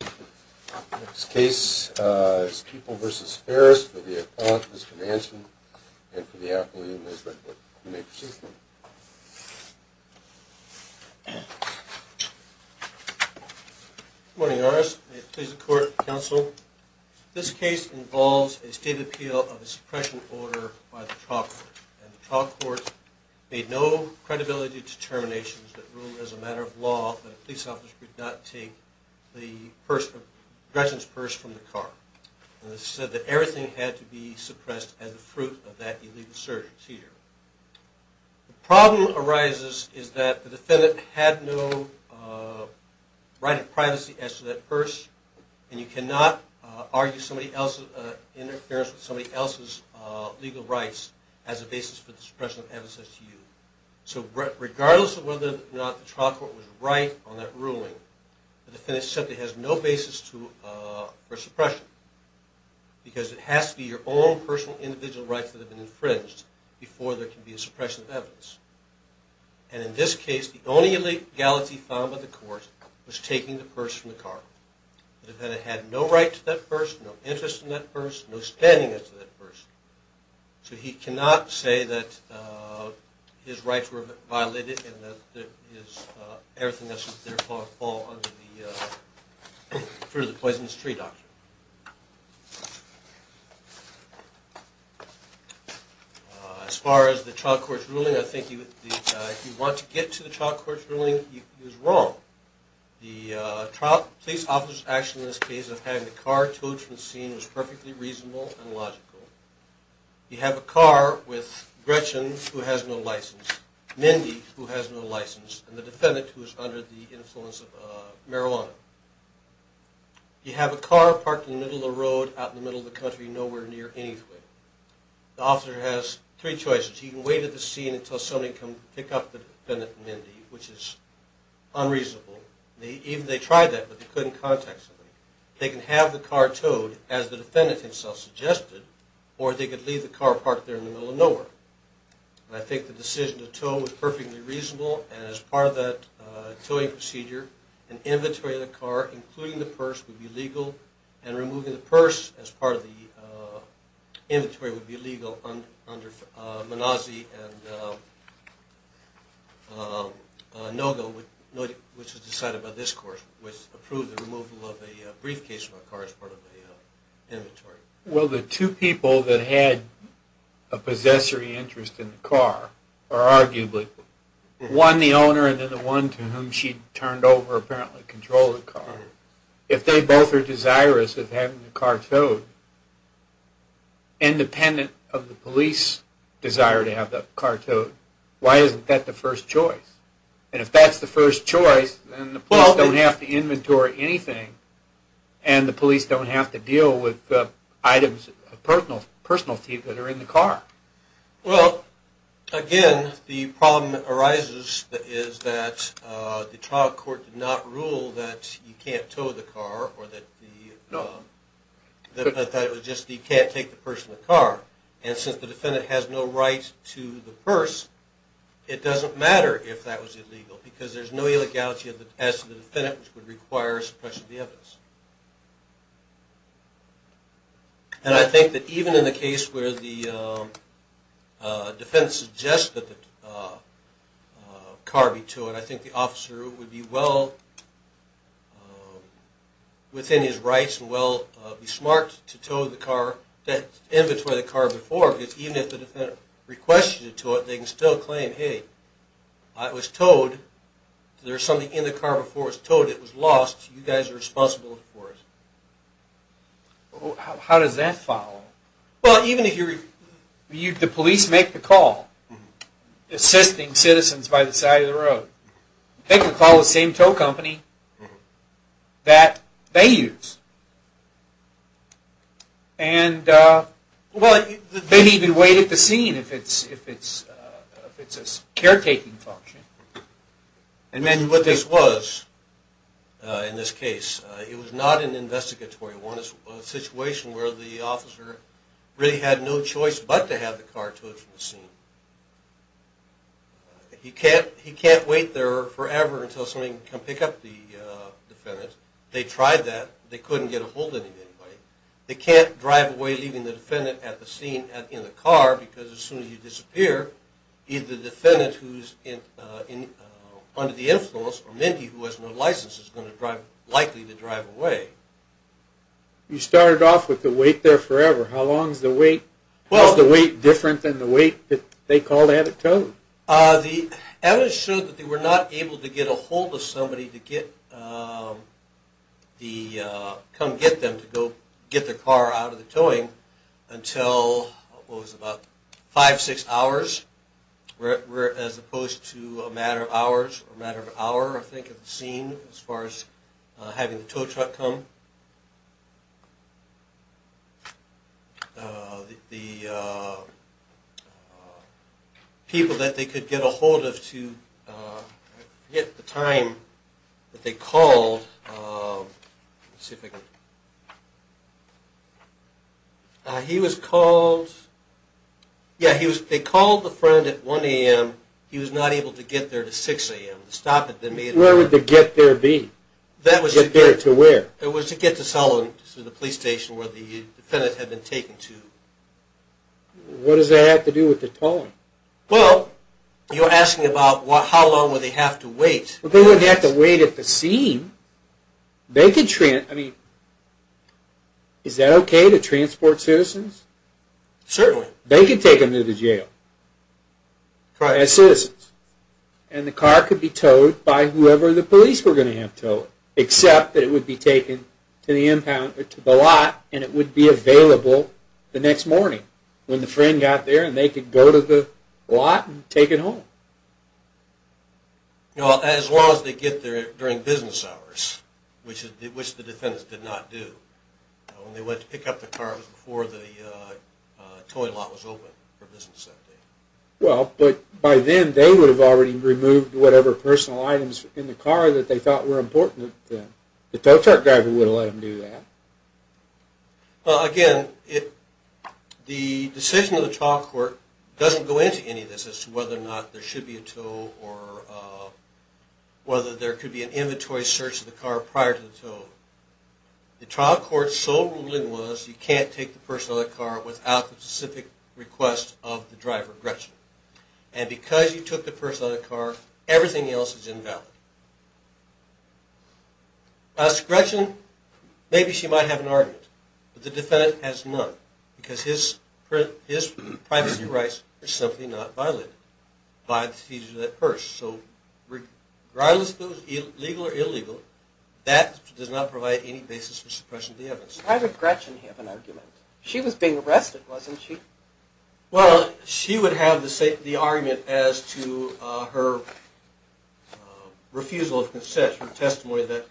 The next case is People v. Ferris for the Appellant, Mr. Manson, and for the Appellant, Ms. Redwood, if you may proceed. Good morning, Horace. May it please the Court, Counsel. This case involves a state appeal of a suppression order by the trial court. The trial court made no credibility determinations that ruled as a matter of law that a police officer could not take the person's purse from the car. It said that everything had to be suppressed as a fruit of that illegal search. The problem arises is that the defendant had no right of privacy as to that purse, and you cannot argue somebody else's interference with somebody else's legal rights as a basis for the suppression of evidence as to you. So regardless of whether or not the trial court was right on that ruling, the defendant simply has no basis for suppression, because it has to be your own personal individual rights that have been infringed before there can be a suppression of evidence. And in this case, the only legality found by the court was taking the purse from the car. The defendant had no right to that purse, no interest in that purse, no standing as to that purse. So he cannot say that his rights were violated and that everything else was there for the fruit of the poisonous tree doctrine. As far as the trial court's ruling, I think if you want to get to the trial court's ruling, he was wrong. The police officer's action in this case of having the car towed from the scene was perfectly reasonable and logical. You have a car with Gretchen, who has no license, Mindy, who has no license, and the defendant, who is under the influence of marijuana. You have a car parked in the middle of the road, out in the middle of the country, nowhere near anything. The officer has three choices. He can wait at the scene until somebody can pick up the defendant and Mindy, which is unreasonable. Even if they tried that, but they couldn't contact somebody. They can have the car towed, as the defendant himself suggested, or they could leave the car parked there in the middle of nowhere. And I think the decision to tow was perfectly reasonable, and as part of that towing procedure, an inventory of the car, including the purse, would be legal. And removing the purse as part of the inventory would be legal under Manozzi and Noga, which was decided by this court, which approved the removal of a briefcase from the car as part of the inventory. Well, the two people that had a possessory interest in the car, or arguably, one the owner and then the one to whom she turned over apparently controlled the car, if they both are desirous of having the car towed, independent of the police desire to have the car towed, why isn't that the first choice? And if that's the first choice, then the police don't have to inventory anything, and the police don't have to deal with items of personal thief that are in the car. Well, again, the problem that arises is that the trial court did not rule that you can't tow the car, or that you can't take the purse from the car. And since the defendant has no right to the purse, it doesn't matter if that was illegal, because there's no illegality as to the defendant which would require suppression of the evidence. And I think that even in the case where the defendant suggests that the car be towed, I think the officer would be well within his rights and be smart to tow the car, to inventory the car before, because even if the defendant requests you to tow it, they can still claim, hey, it was towed, there was something in the car before it was towed, it was lost, you guys are responsible for it. How does that follow? Well, even if the police make the call, assisting citizens by the side of the road, they can call the same tow company that they use. And they can even wait at the scene if it's a caretaking function. And what this was in this case, it was not an investigatory one. It was a situation where the officer really had no choice but to have the car towed from the scene. He can't wait there forever until somebody can come pick up the defendant. They tried that. They couldn't get a hold of anybody. They can't drive away leaving the defendant at the scene in the car, because as soon as you disappear, either the defendant who's under the influence, or Mindy who has no license is likely to drive away. You started off with the wait there forever. How long is the wait different than the wait that they call to have it towed? The evidence showed that they were not able to get a hold of somebody to come get them, to go get their car out of the towing until, what was it, about five, six hours, as opposed to a matter of hours, a matter of hour, I think, at the scene as far as having the tow truck come. The people that they could get a hold of to get the time that they called, he was called, yeah, they called the friend at 1 a.m. He was not able to get there to 6 a.m. to stop it. Where would the get there be? Get there to where? It was to get to Sullivan, to the police station where the defendant had been taken to. What does that have to do with the towing? Well, you're asking about how long would they have to wait? Well, they wouldn't have to wait at the scene. They could, I mean, is that okay to transport citizens? Certainly. They could take them to the jail as citizens, and the car could be towed by whoever the police were going to have towed, except that it would be taken to the lot, and it would be available the next morning when the friend got there, and they could go to the lot and take it home. As long as they get there during business hours, which the defendants did not do, when they went to pick up the car, it was before the towing lot was open for business that day. Well, but by then they would have already removed whatever personal items in the car that they thought were important to them. The tow truck driver would have let them do that. Well, again, the decision of the trial court doesn't go into any of this as to whether or not there should be a tow or whether there could be an inventory search of the car prior to the tow. The trial court's sole ruling was you can't take the personal of the car without the specific request of the driver, Gretchen. And because you took the personal of the car, everything else is invalid. As to Gretchen, maybe she might have an argument, but the defendant has none because his privacy rights are simply not violated by the seizure of that purse. So regardless if it was legal or illegal, that does not provide any basis for suppression of the evidence. Why would Gretchen have an argument? She was being arrested, wasn't she? Well, she would have the argument as to her refusal of consent, her testimony that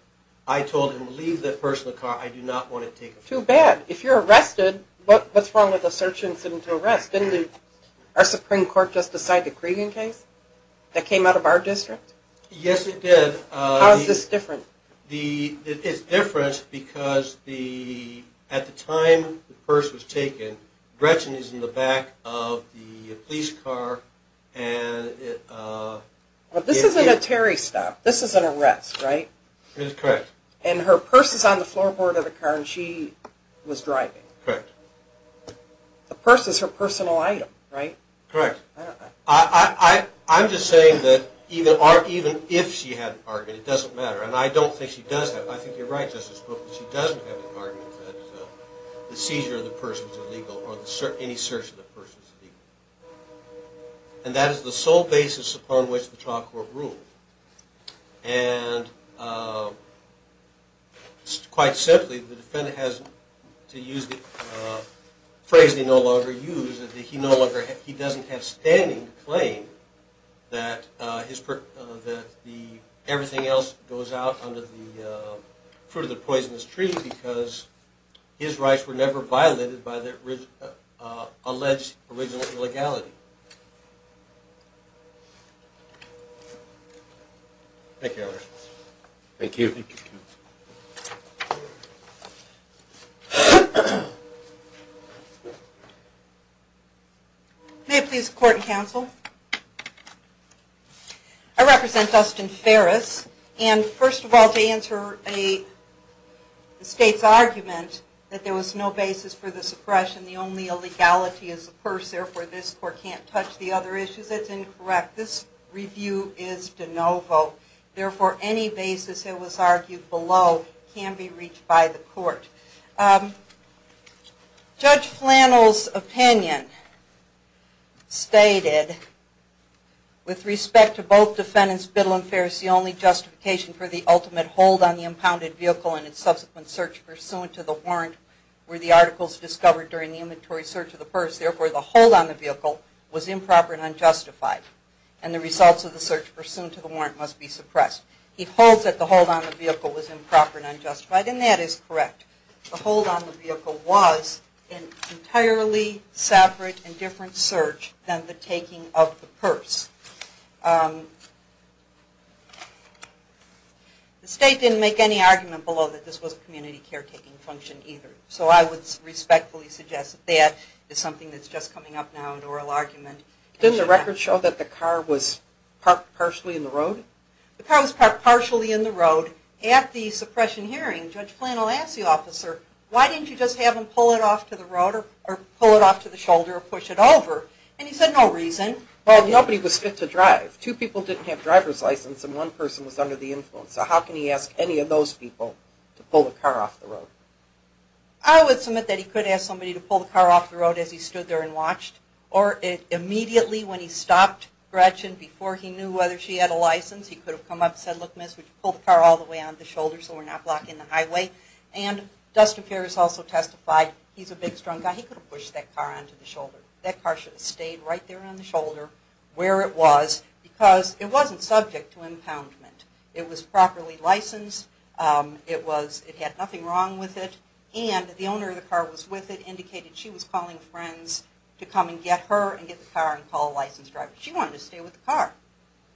I told him to leave that personal of the car. I do not want to take it from him. Too bad. If you're arrested, what's wrong with a search incident to arrest? Didn't our Supreme Court just decide the Cregan case that came out of our district? Yes, it did. How is this different? It's different because at the time the purse was taken, Gretchen is in the back of the police car. This isn't a Terry stop. This is an arrest, right? Correct. And her purse is on the floorboard of the car and she was driving. Correct. The purse is her personal item, right? Correct. I'm just saying that even if she had an argument, it doesn't matter. And I don't think she does have. I think you're right, Justice Cook, that she doesn't have an argument that the seizure of the purse is illegal or any search of the purse is illegal. And that is the sole basis upon which the trial court ruled. And quite simply, the defendant has to use the phrase they no longer use, that he doesn't have standing to claim that everything else goes out under the fruit of the poisonous tree because his rights were never violated by the alleged original illegality. Thank you, Your Honor. Thank you. Thank you, counsel. May I please court and counsel? I represent Dustin Ferris. And first of all, to answer the state's argument that there was no basis for the suppression, the only illegality is the purse, therefore this court can't touch the other issues, that's incorrect. This review is de novo. Therefore, any basis that was argued below can be reached by the court. Judge Flannel's opinion stated, with respect to both defendants, Biddle and Ferris, the only justification for the ultimate hold on the impounded vehicle and its subsequent search pursuant to the warrant were the articles discovered during the inventory search of the purse. Therefore, the hold on the vehicle was improper and unjustified. And the results of the search pursuant to the warrant must be suppressed. He holds that the hold on the vehicle was improper and unjustified, and that is correct. The hold on the vehicle was an entirely separate and different search than the taking of the purse. The state didn't make any argument below that this was a community caretaking function either. So I would respectfully suggest that that is something that's just coming up now in oral argument. Didn't the record show that the car was parked partially in the road? The car was parked partially in the road. At the suppression hearing, Judge Flannel asked the officer, why didn't you just have him pull it off to the shoulder or push it over? And he said, no reason. Well, nobody was fit to drive. Two people didn't have driver's license and one person was under the influence. So how can he ask any of those people to pull the car off the road? I would submit that he could ask somebody to pull the car off the road as he stood there and watched. Or immediately when he stopped Gretchen before he knew whether she had a license, he could have come up and said, look, miss, would you pull the car all the way on the shoulder so we're not blocking the highway? And Dustin Ferris also testified he's a big, strong guy. He could have pushed that car onto the shoulder. That car should have stayed right there on the shoulder where it was because it wasn't subject to impoundment. It was properly licensed. It had nothing wrong with it. And the owner of the car was with it, indicated she was calling friends to come and get her and get the car and call a licensed driver. She wanted to stay with the car.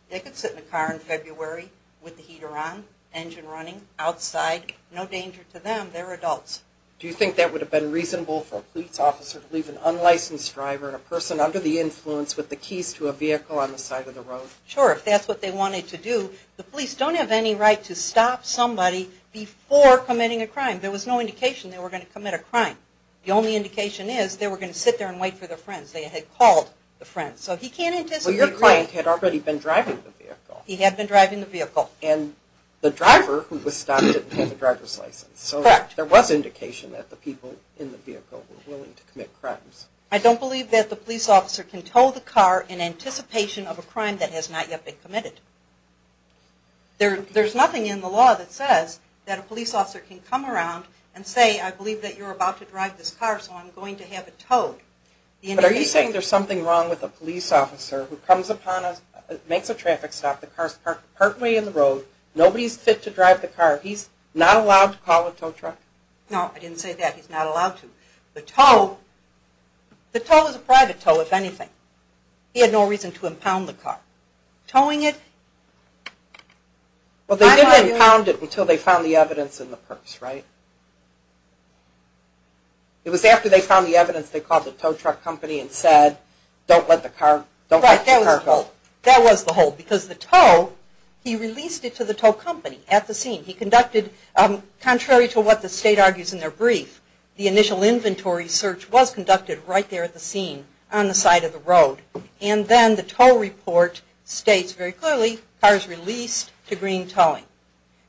They could sit in the car in February with the heater on, engine running, outside. No danger to them. They're adults. Do you think that would have been reasonable for a police officer to leave an unlicensed driver and a person under the influence with the keys to a vehicle on the side of the road? Sure, if that's what they wanted to do. The police don't have any right to stop somebody before committing a crime. There was no indication they were going to commit a crime. The only indication is they were going to sit there and wait for their friends. They had called the friends. So he can't anticipate. Well, your client had already been driving the vehicle. He had been driving the vehicle. And the driver who was stopped didn't have a driver's license. Correct. So there was indication that the people in the vehicle were willing to commit crimes. I don't believe that the police officer can tow the car in anticipation of a crime that has not yet been committed. There's nothing in the law that says that a police officer can come around and say, I believe that you're about to drive this car, so I'm going to have it towed. But are you saying there's something wrong with a police officer who comes upon us, makes a traffic stop, the car's parked partway in the road, nobody's fit to drive the car, he's not allowed to call a tow truck? No, I didn't say that. He's not allowed to. The tow is a private tow, if anything. He had no reason to impound the car. Towing it? Well, they didn't impound it until they found the evidence in the purse, right? It was after they found the evidence they called the tow truck company and said, don't let the car tow. That was the hold. Because the tow, he released it to the tow company at the scene. He conducted, contrary to what the state argues in their brief, the initial inventory search was conducted right there at the scene on the side of the road. And then the tow report states very clearly, car's released to green towing.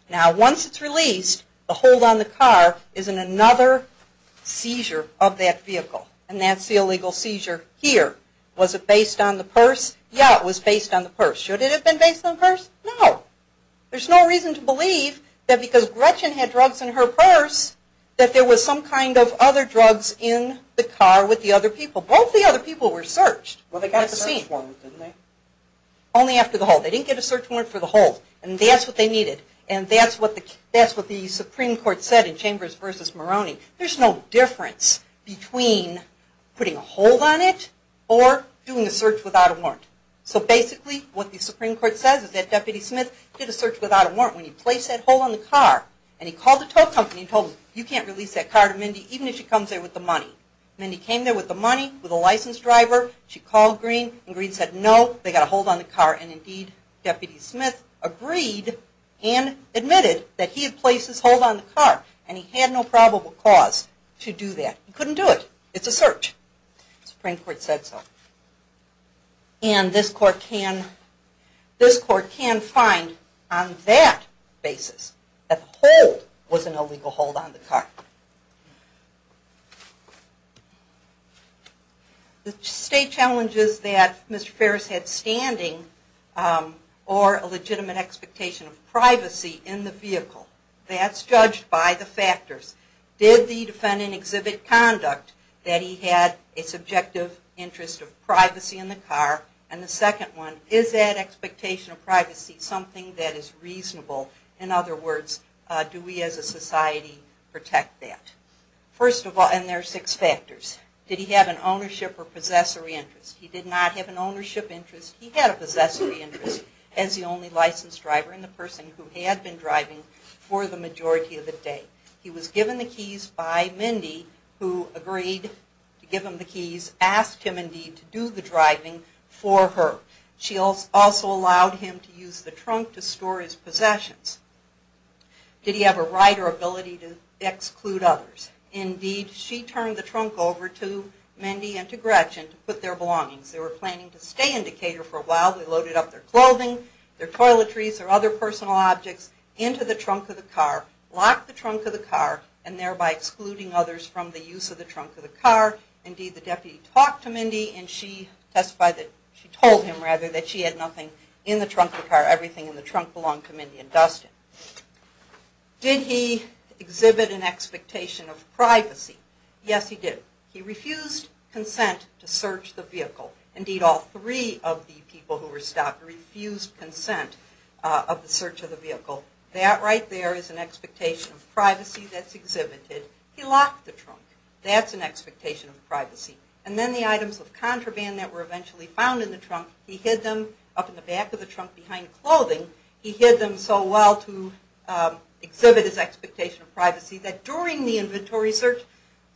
Now, once it's released, the hold on the car is in another seizure of that vehicle. And that's the illegal seizure here. Was it based on the purse? Yeah, it was based on the purse. Should it have been based on the purse? No. There's no reason to believe that because Gretchen had drugs in her purse, that there was some kind of other drugs in the car with the other people. So both the other people were searched. Well, they got the search warrant, didn't they? Only after the hold. They didn't get a search warrant for the hold. And that's what they needed. And that's what the Supreme Court said in Chambers v. Moroney. There's no difference between putting a hold on it or doing a search without a warrant. So basically what the Supreme Court says is that Deputy Smith did a search without a warrant. When he placed that hold on the car and he called the tow company and told them, you can't release that car to Mindy even if she comes there with the money. Mindy came there with the money, with a licensed driver. She called Greene and Greene said, no, they've got a hold on the car. And indeed, Deputy Smith agreed and admitted that he had placed his hold on the car and he had no probable cause to do that. He couldn't do it. It's a search. The Supreme Court said so. And this court can find on that basis that the hold was an illegal hold on the car. The state challenges that Mr. Ferris had standing or a legitimate expectation of privacy in the vehicle. That's judged by the factors. Did the defendant exhibit conduct that he had a subjective interest of privacy in the car? And the second one, is that expectation of privacy something that is reasonable? In other words, do we as a society protect that? First of all, and there are six factors. Did he have an ownership or possessory interest? He did not have an ownership interest. He had a possessory interest as the only licensed driver and the person who had been driving for the majority of the day. He was given the keys by Mindy who agreed to give him the keys, asked him indeed to do the driving for her. She also allowed him to use the trunk to store his possessions. Did he have a right or ability to exclude others? Indeed, she turned the trunk over to Mindy and to Gretchen to put their belongings. They were planning to stay in Decatur for a while. They loaded up their clothing, their toiletries, their other personal objects into the trunk of the car, locked the trunk of the car and thereby excluding others from the use of the trunk of the car. Indeed, the deputy talked to Mindy and she testified that, she told him rather that she had nothing in the trunk of the car. Everything in the trunk belonged to Mindy and Dustin. Did he exhibit an expectation of privacy? Yes, he did. He refused consent to search the vehicle. Indeed, all three of the people who were stopped refused consent of the search of the vehicle. That right there is an expectation of privacy that's exhibited. He locked the trunk. That's an expectation of privacy. And then the items of contraband that were eventually found in the trunk, he hid them up in the back of the trunk behind clothing. He hid them so well to exhibit his expectation of privacy that during the inventory search,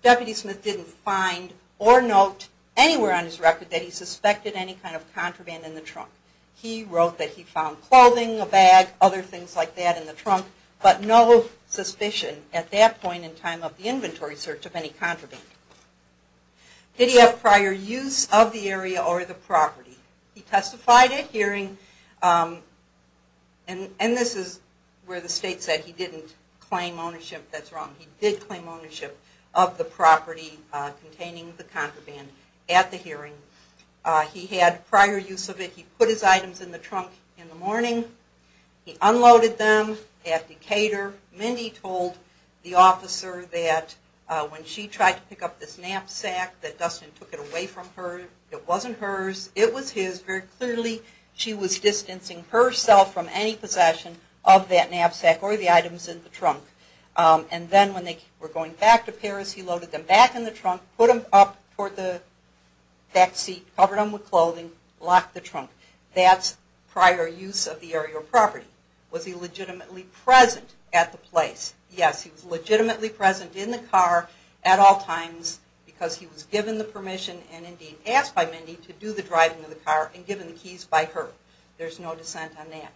Deputy Smith didn't find or note anywhere on his record that he suspected any kind of contraband in the trunk. He wrote that he found clothing, a bag, other things like that in the trunk, but no suspicion at that point in time of the inventory search of any contraband. Did he have prior use of the area or the property? He testified at hearing, and this is where the state said he didn't claim ownership, that's wrong, he did claim ownership of the property containing the contraband at the hearing. He had prior use of it. He put his items in the trunk in the morning. He unloaded them at Decatur. Mindy told the officer that when she tried to pick up this knapsack, that Dustin took it away from her. It wasn't hers. It was his. Very clearly she was distancing herself from any possession of that knapsack or the items in the trunk. Put him up toward the back seat, covered him with clothing, locked the trunk. That's prior use of the area or property. Was he legitimately present at the place? Yes, he was legitimately present in the car at all times because he was given the permission and indeed asked by Mindy to do the driving of the car and given the keys by her. There's no dissent on that.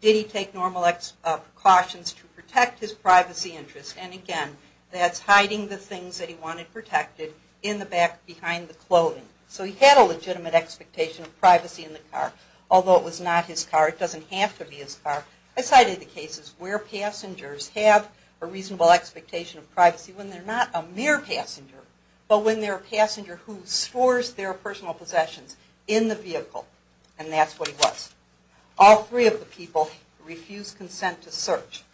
Did he take normal precautions to protect his privacy interests? And again, that's hiding the things that he wanted protected in the back behind the clothing. So he had a legitimate expectation of privacy in the car, although it was not his car. It doesn't have to be his car. I cited the cases where passengers have a reasonable expectation of privacy when they're not a mere passenger, but when they're a passenger who stores their personal possessions in the vehicle, and that's what he was. All three of the people refused consent to search.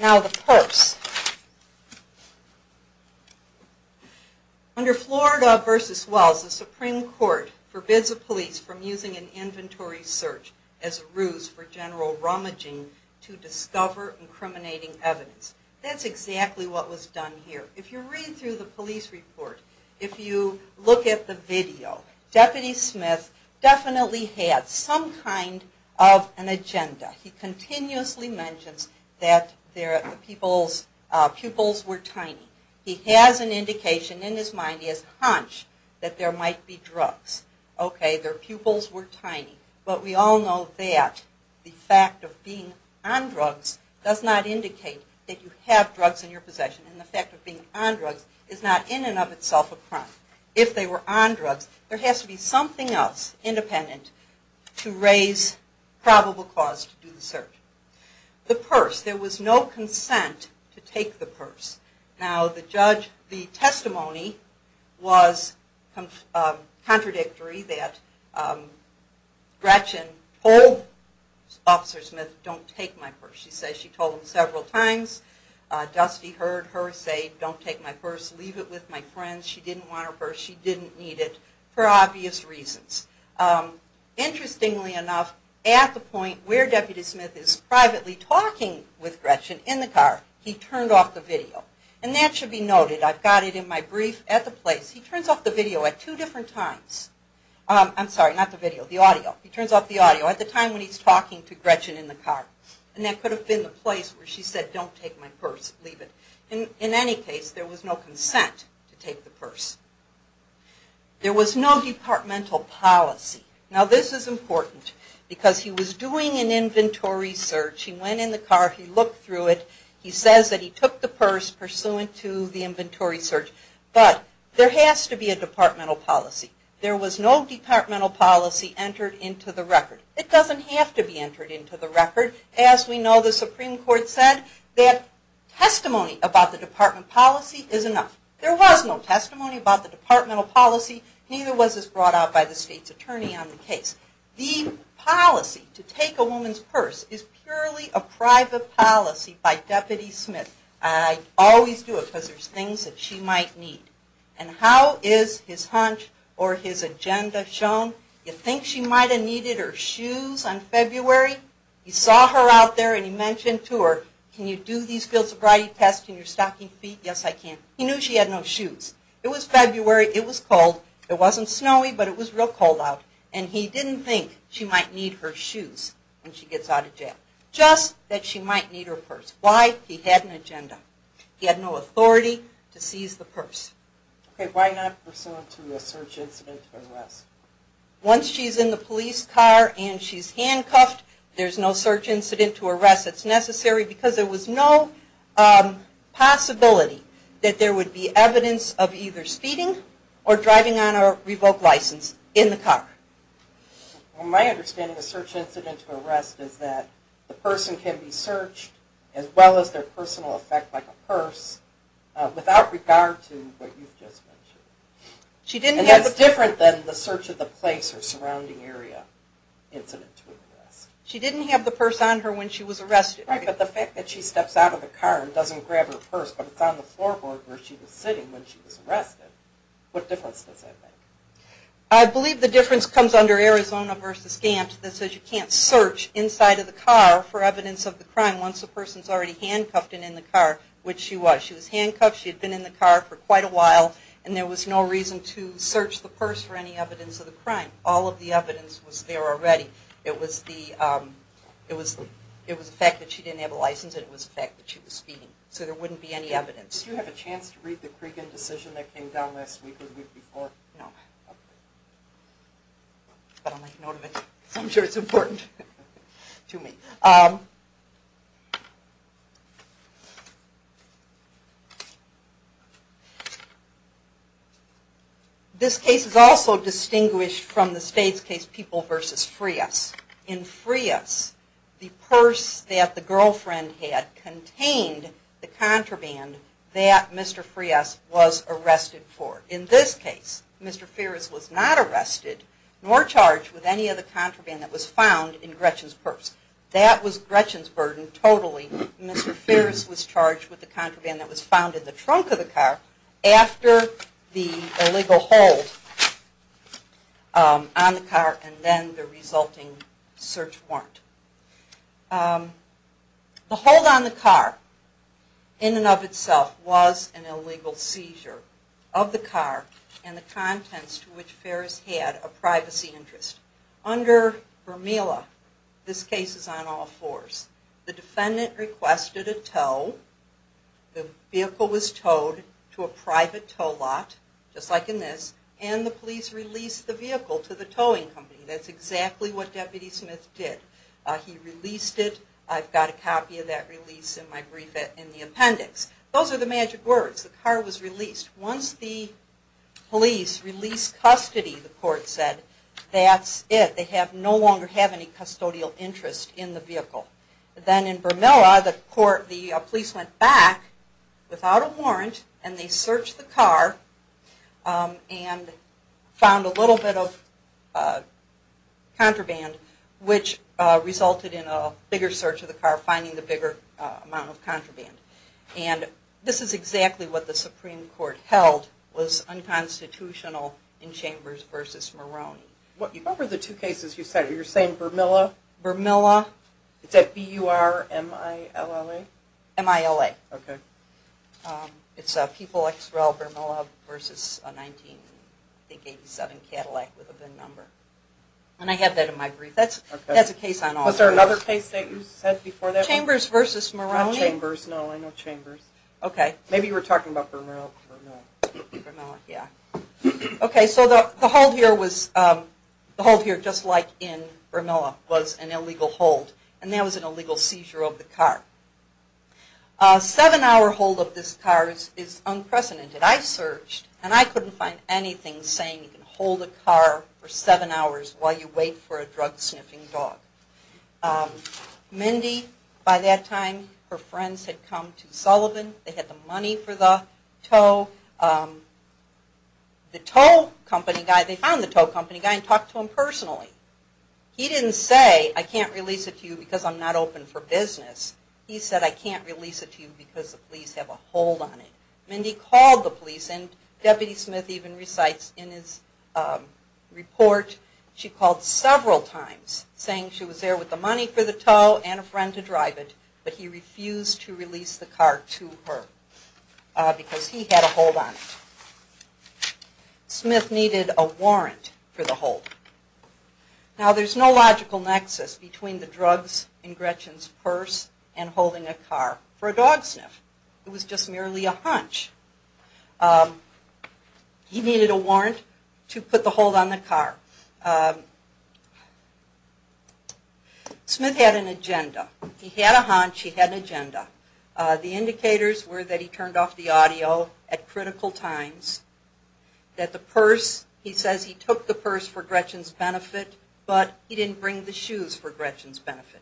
Now the purse. Under Florida v. Wells, the Supreme Court forbids the police from using an inventory search as a ruse for general rummaging to discover incriminating evidence. That's exactly what was done here. If you read through the police report, if you look at the video, Deputy Smith definitely had some kind of an agenda. He continuously mentions that the pupils were tiny. He has an indication in his mind, he has a hunch, that there might be drugs. Okay, their pupils were tiny, but we all know that the fact of being on drugs does not indicate that you have drugs in your possession, and the fact of being on drugs is not in and of itself a crime. If they were on drugs, there has to be something else independent to raise probable cause to do the search. The purse. There was no consent to take the purse. Now the testimony was contradictory that Gretchen told Officer Smith, don't take my purse. She said she told him several times. Dusty heard her say, don't take my purse, leave it with my friends. She didn't want her purse. She didn't need it for obvious reasons. Interestingly enough, at the point where Deputy Smith is privately talking with Gretchen in the car, he turned off the video. And that should be noted. I've got it in my brief at the place. He turns off the video at two different times. I'm sorry, not the video, the audio. He turns off the audio at the time when he's talking to Gretchen in the car. And that could have been the place where she said, don't take my purse, leave it. In any case, there was no consent to take the purse. There was no departmental policy. Now this is important because he was doing an inventory search. He went in the car. He looked through it. He says that he took the purse pursuant to the inventory search. But there has to be a departmental policy. There was no departmental policy entered into the record. It doesn't have to be entered into the record. As we know, the Supreme Court said that testimony about the department policy is enough. There was no testimony about the departmental policy, neither was this brought out by the state's attorney on the case. The policy to take a woman's purse is purely a private policy by Deputy Smith. I always do it because there's things that she might need. And how is his hunch or his agenda shown? You think she might have needed her shoes on February? You saw her out there and you mentioned to her, can you do these field sobriety tests in your stocking feet? Yes, I can. He knew she had no shoes. It was February. It was cold. It wasn't snowy, but it was real cold out. And he didn't think she might need her shoes when she gets out of jail, just that she might need her purse. Why? He had an agenda. He had no authority to seize the purse. Okay, why not pursuant to a search incident to arrest? Once she's in the police car and she's handcuffed, there's no search incident to arrest. It's necessary because there was no possibility that there would be evidence of either speeding or driving on a revoked license in the car. My understanding of a search incident to arrest is that the person can be searched as well as their personal effect, like a purse, without regard to what you've just mentioned. And that's different than the search of the place or surrounding area incident to arrest. She didn't have the purse on her when she was arrested. Right, but the fact that she steps out of the car and doesn't grab her purse but it's on the floorboard where she was sitting when she was arrested, what difference does that make? I believe the difference comes under Arizona v. Gant that says you can't search inside of the car for evidence of the crime once the person's already handcuffed and in the car, which she was. She was handcuffed. She had been in the car for quite a while, and there was no reason to search the purse for any evidence of the crime. All of the evidence was there already. It was the fact that she didn't have a license, and it was the fact that she was speeding. So there wouldn't be any evidence. Did you have a chance to read the Cregan decision that came down last week or the week before? No, but I'll make note of it because I'm sure it's important to me. This case is also distinguished from the state's case, People v. Frias. In Frias, the purse that the girlfriend had contained the contraband that Mr. Frias was arrested for. In this case, Mr. Ferris was not arrested nor charged with any of the That was Gretchen's burden totally. Mr. Ferris was charged with the contraband that was found in the trunk of the car after the illegal hold on the car and then the resulting search warrant. The hold on the car in and of itself was an illegal seizure of the car and the contents to which Ferris had a privacy interest. Under Vermeula, this case is on all fours. The defendant requested a tow. The vehicle was towed to a private tow lot, just like in this, and the police released the vehicle to the towing company. That's exactly what Deputy Smith did. He released it. I've got a copy of that release in my brief in the appendix. Those are the magic words. The car was released. Once the police released custody, the court said, that's it. They no longer have any custodial interest in the vehicle. Then in Vermeula, the police went back without a warrant and they searched the car and found a little bit of contraband, which resulted in a bigger search of the car, finding the bigger amount of contraband. This is exactly what the Supreme Court held was unconstitutional in Chambers v. Maroney. What were the two cases you said? You're saying Vermeula? Vermeula. Is that B-U-R-M-I-L-L-A? M-I-L-A. Okay. It's People X-Rel Vermeula v. 1987 Cadillac with a VIN number. I have that in my brief. That's a case on all fours. Was there another case that you said before that? Chambers v. Maroney. Not Chambers, no. I know Chambers. Okay. Maybe you were talking about Vermeula. Vermeula, yeah. Okay, so the hold here just like in Vermeula was an illegal hold, and that was an illegal seizure of the car. A seven-hour hold of this car is unprecedented. I searched and I couldn't find anything saying you can hold a car for seven hours while you wait for a drug-sniffing dog. Mindy, by that time, her friends had come to Sullivan. They had the money for the tow. The tow company guy, they found the tow company guy and talked to him personally. He didn't say, I can't release it to you because I'm not open for business. He said, I can't release it to you because the police have a hold on it. Mindy called the police, and Deputy Smith even recites in his report, she called several times saying she was there with the money for the tow and a friend to drive it, but he refused to release the car to her because he had a hold on it. Smith needed a warrant for the hold. Now, there's no logical nexus between the drugs in Gretchen's purse and holding a car for a dog sniff. It was just merely a hunch. He needed a warrant to put the hold on the car. Smith had an agenda. He had a hunch, he had an agenda. The indicators were that he turned off the audio at critical times, that the purse, he says he took the purse for Gretchen's benefit, but he didn't bring the shoes for Gretchen's benefit.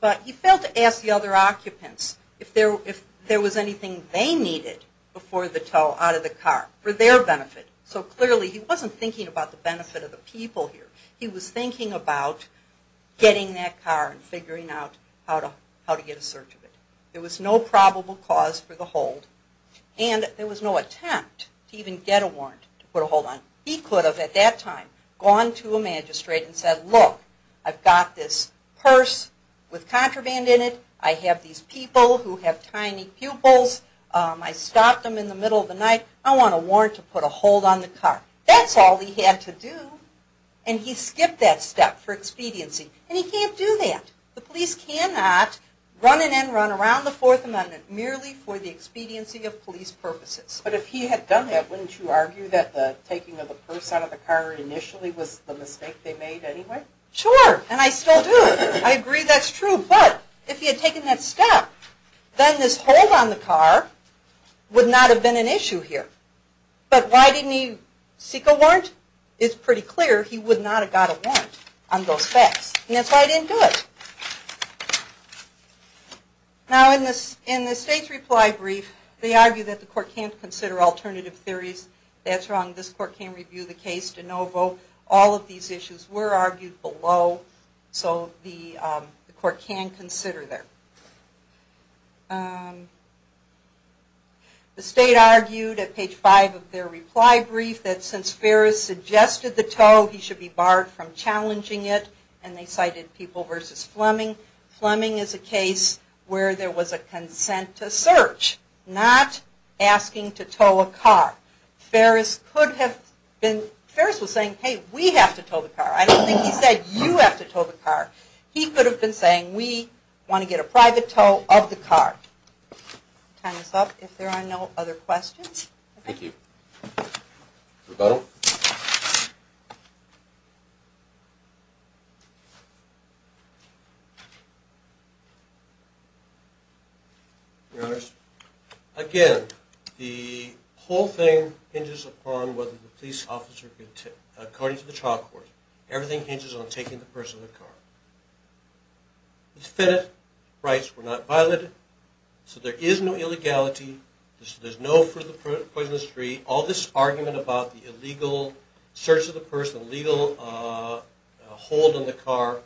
But he failed to ask the other occupants if there was anything they needed before the tow out of the car for their benefit. So clearly he wasn't thinking about the benefit of the people here. He was thinking about getting that car and figuring out how to get a search of it. There was no probable cause for the hold, and there was no attempt to even get a warrant to put a hold on it. He could have at that time gone to a magistrate and said, look, I've got this purse with contraband in it. I have these people who have tiny pupils. I stopped them in the middle of the night. I want a warrant to put a hold on the car. That's all he had to do. And he skipped that step for expediency. And he can't do that. The police cannot run in and run around the Fourth Amendment merely for the expediency of police purposes. But if he had done that, wouldn't you argue that the taking of the purse out of the car initially was the mistake they made anyway? Sure. And I still do. I agree that's true. But if he had taken that step, then this hold on the car would not have been an issue here. But why didn't he seek a warrant? It's pretty clear he would not have got a warrant on those facts. And that's why he didn't do it. Now in the state's reply brief, they argue that the court can't consider alternative theories. That's wrong. This court can't review the case de novo. All of these issues were argued below. So the court can consider them. The state argued at page 5 of their reply brief that since Ferris suggested the tow, he should be barred from challenging it. And they cited People v. Fleming. Fleming is a case where there was a consent to search, not asking to tow a car. Ferris was saying, hey, we have to tow the car. I don't think he said you have to tow the car. He could have been saying we want to get a private tow of the car. Time is up. If there are no other questions. Thank you. Rebuttal. Your Honors. Again, the whole thing hinges upon whether the police officer, according to the trial court, everything hinges on taking the purse of the car. The defendant's rights were not violated. So there is no illegality. There's no further poisoning of the street. All this argument about the illegal search of the purse, the illegal hold on the car,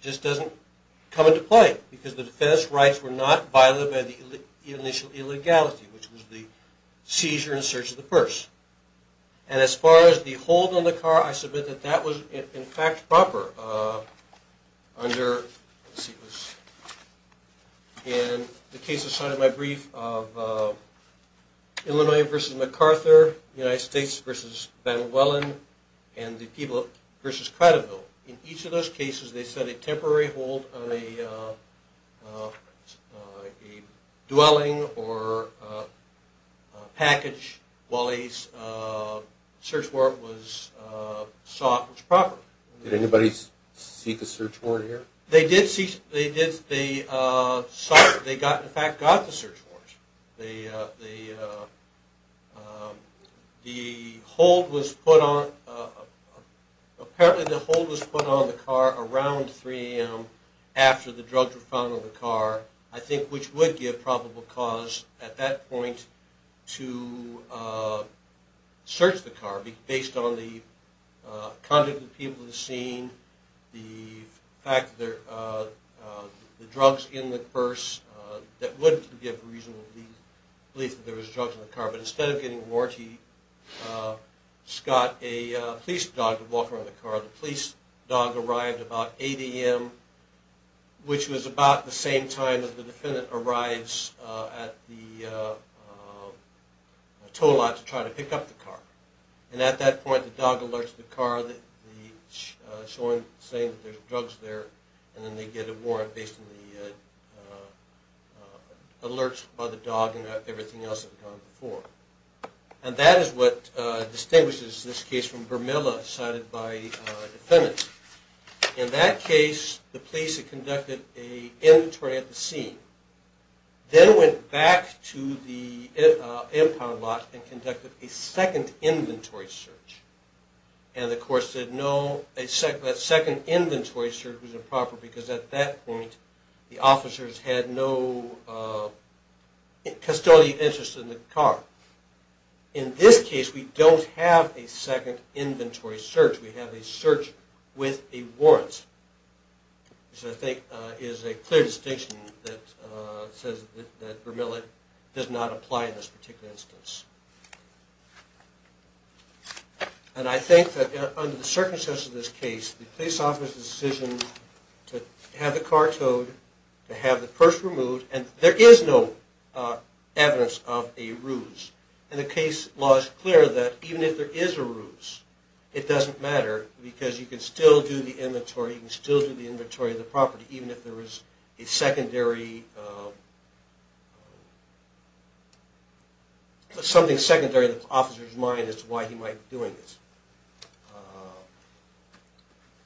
just doesn't come into play because the defendant's rights were not violated by the initial illegality, which was the seizure and search of the purse. And as far as the hold on the car, I submit that that was, in fact, proper under, let's see, in the cases cited in my brief of Illinois v. MacArthur, United States v. Van Wellen, and the People v. Cradleville. In each of those cases they said a temporary hold on a dwelling or package while a search warrant was sought was proper. Did anybody seek a search warrant here? They did seek, they sought, they got, in fact, got the search warrant. The hold was put on, apparently the hold was put on the car around 3 a.m. after the drugs were found on the car, I think which would give probable cause at that point to search the car based on the conduct of the people at the scene, the fact that the drugs in the purse, that would give reasonable belief that there was drugs in the car. But instead of getting a warrant, he got a police dog to walk around the car. The police dog arrived about 8 a.m., which was about the same time as the defendant arrives at the tow lot to try to pick up the car. And at that point the dog alerts the car, showing, saying that there's drugs there, and then they get a warrant based on the alerts by the dog and everything else that had gone before. And that is what distinguishes this case from Bermuda, cited by the defendant. In that case, the police had conducted an inventory at the scene, then went back to the impound lot and conducted a second inventory search. And the court said no, that second inventory search was improper because at that point the officers had no custodial interest in the car. In this case, we don't have a second inventory search. We have a search with a warrant, which I think is a clear distinction that says that Bermuda does not apply in this particular instance. And I think that under the circumstances of this case, the police officer's decision to have the car towed, to have the purse removed, and there is no evidence of a ruse. And the case law is clear that even if there is a ruse, it doesn't matter because you can still do the inventory, you can still do the inventory of the property, even if there is a secondary, something secondary in the officer's mind as to why he might be doing this.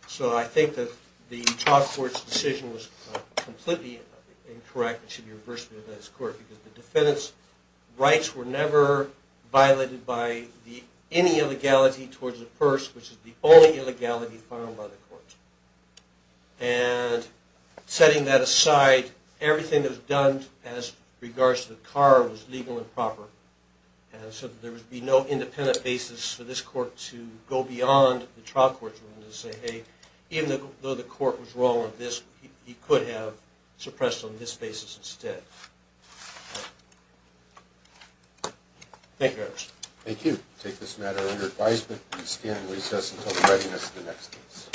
So I think that the Todd Court's decision was completely incorrect. It should be reversed in this court because the defendant's rights were never violated by any illegality towards the purse, which is the only illegality filed by the courts. And setting that aside, everything that was done as regards to the car was legal and proper, and so there would be no independent basis for this court to go beyond the trial court's ruling to say, hey, even though the court was wrong on this, he could have suppressed on this basis instead. Thank you very much. Thank you. We'll take this matter under advisement and stand in recess until the readiness of the next case.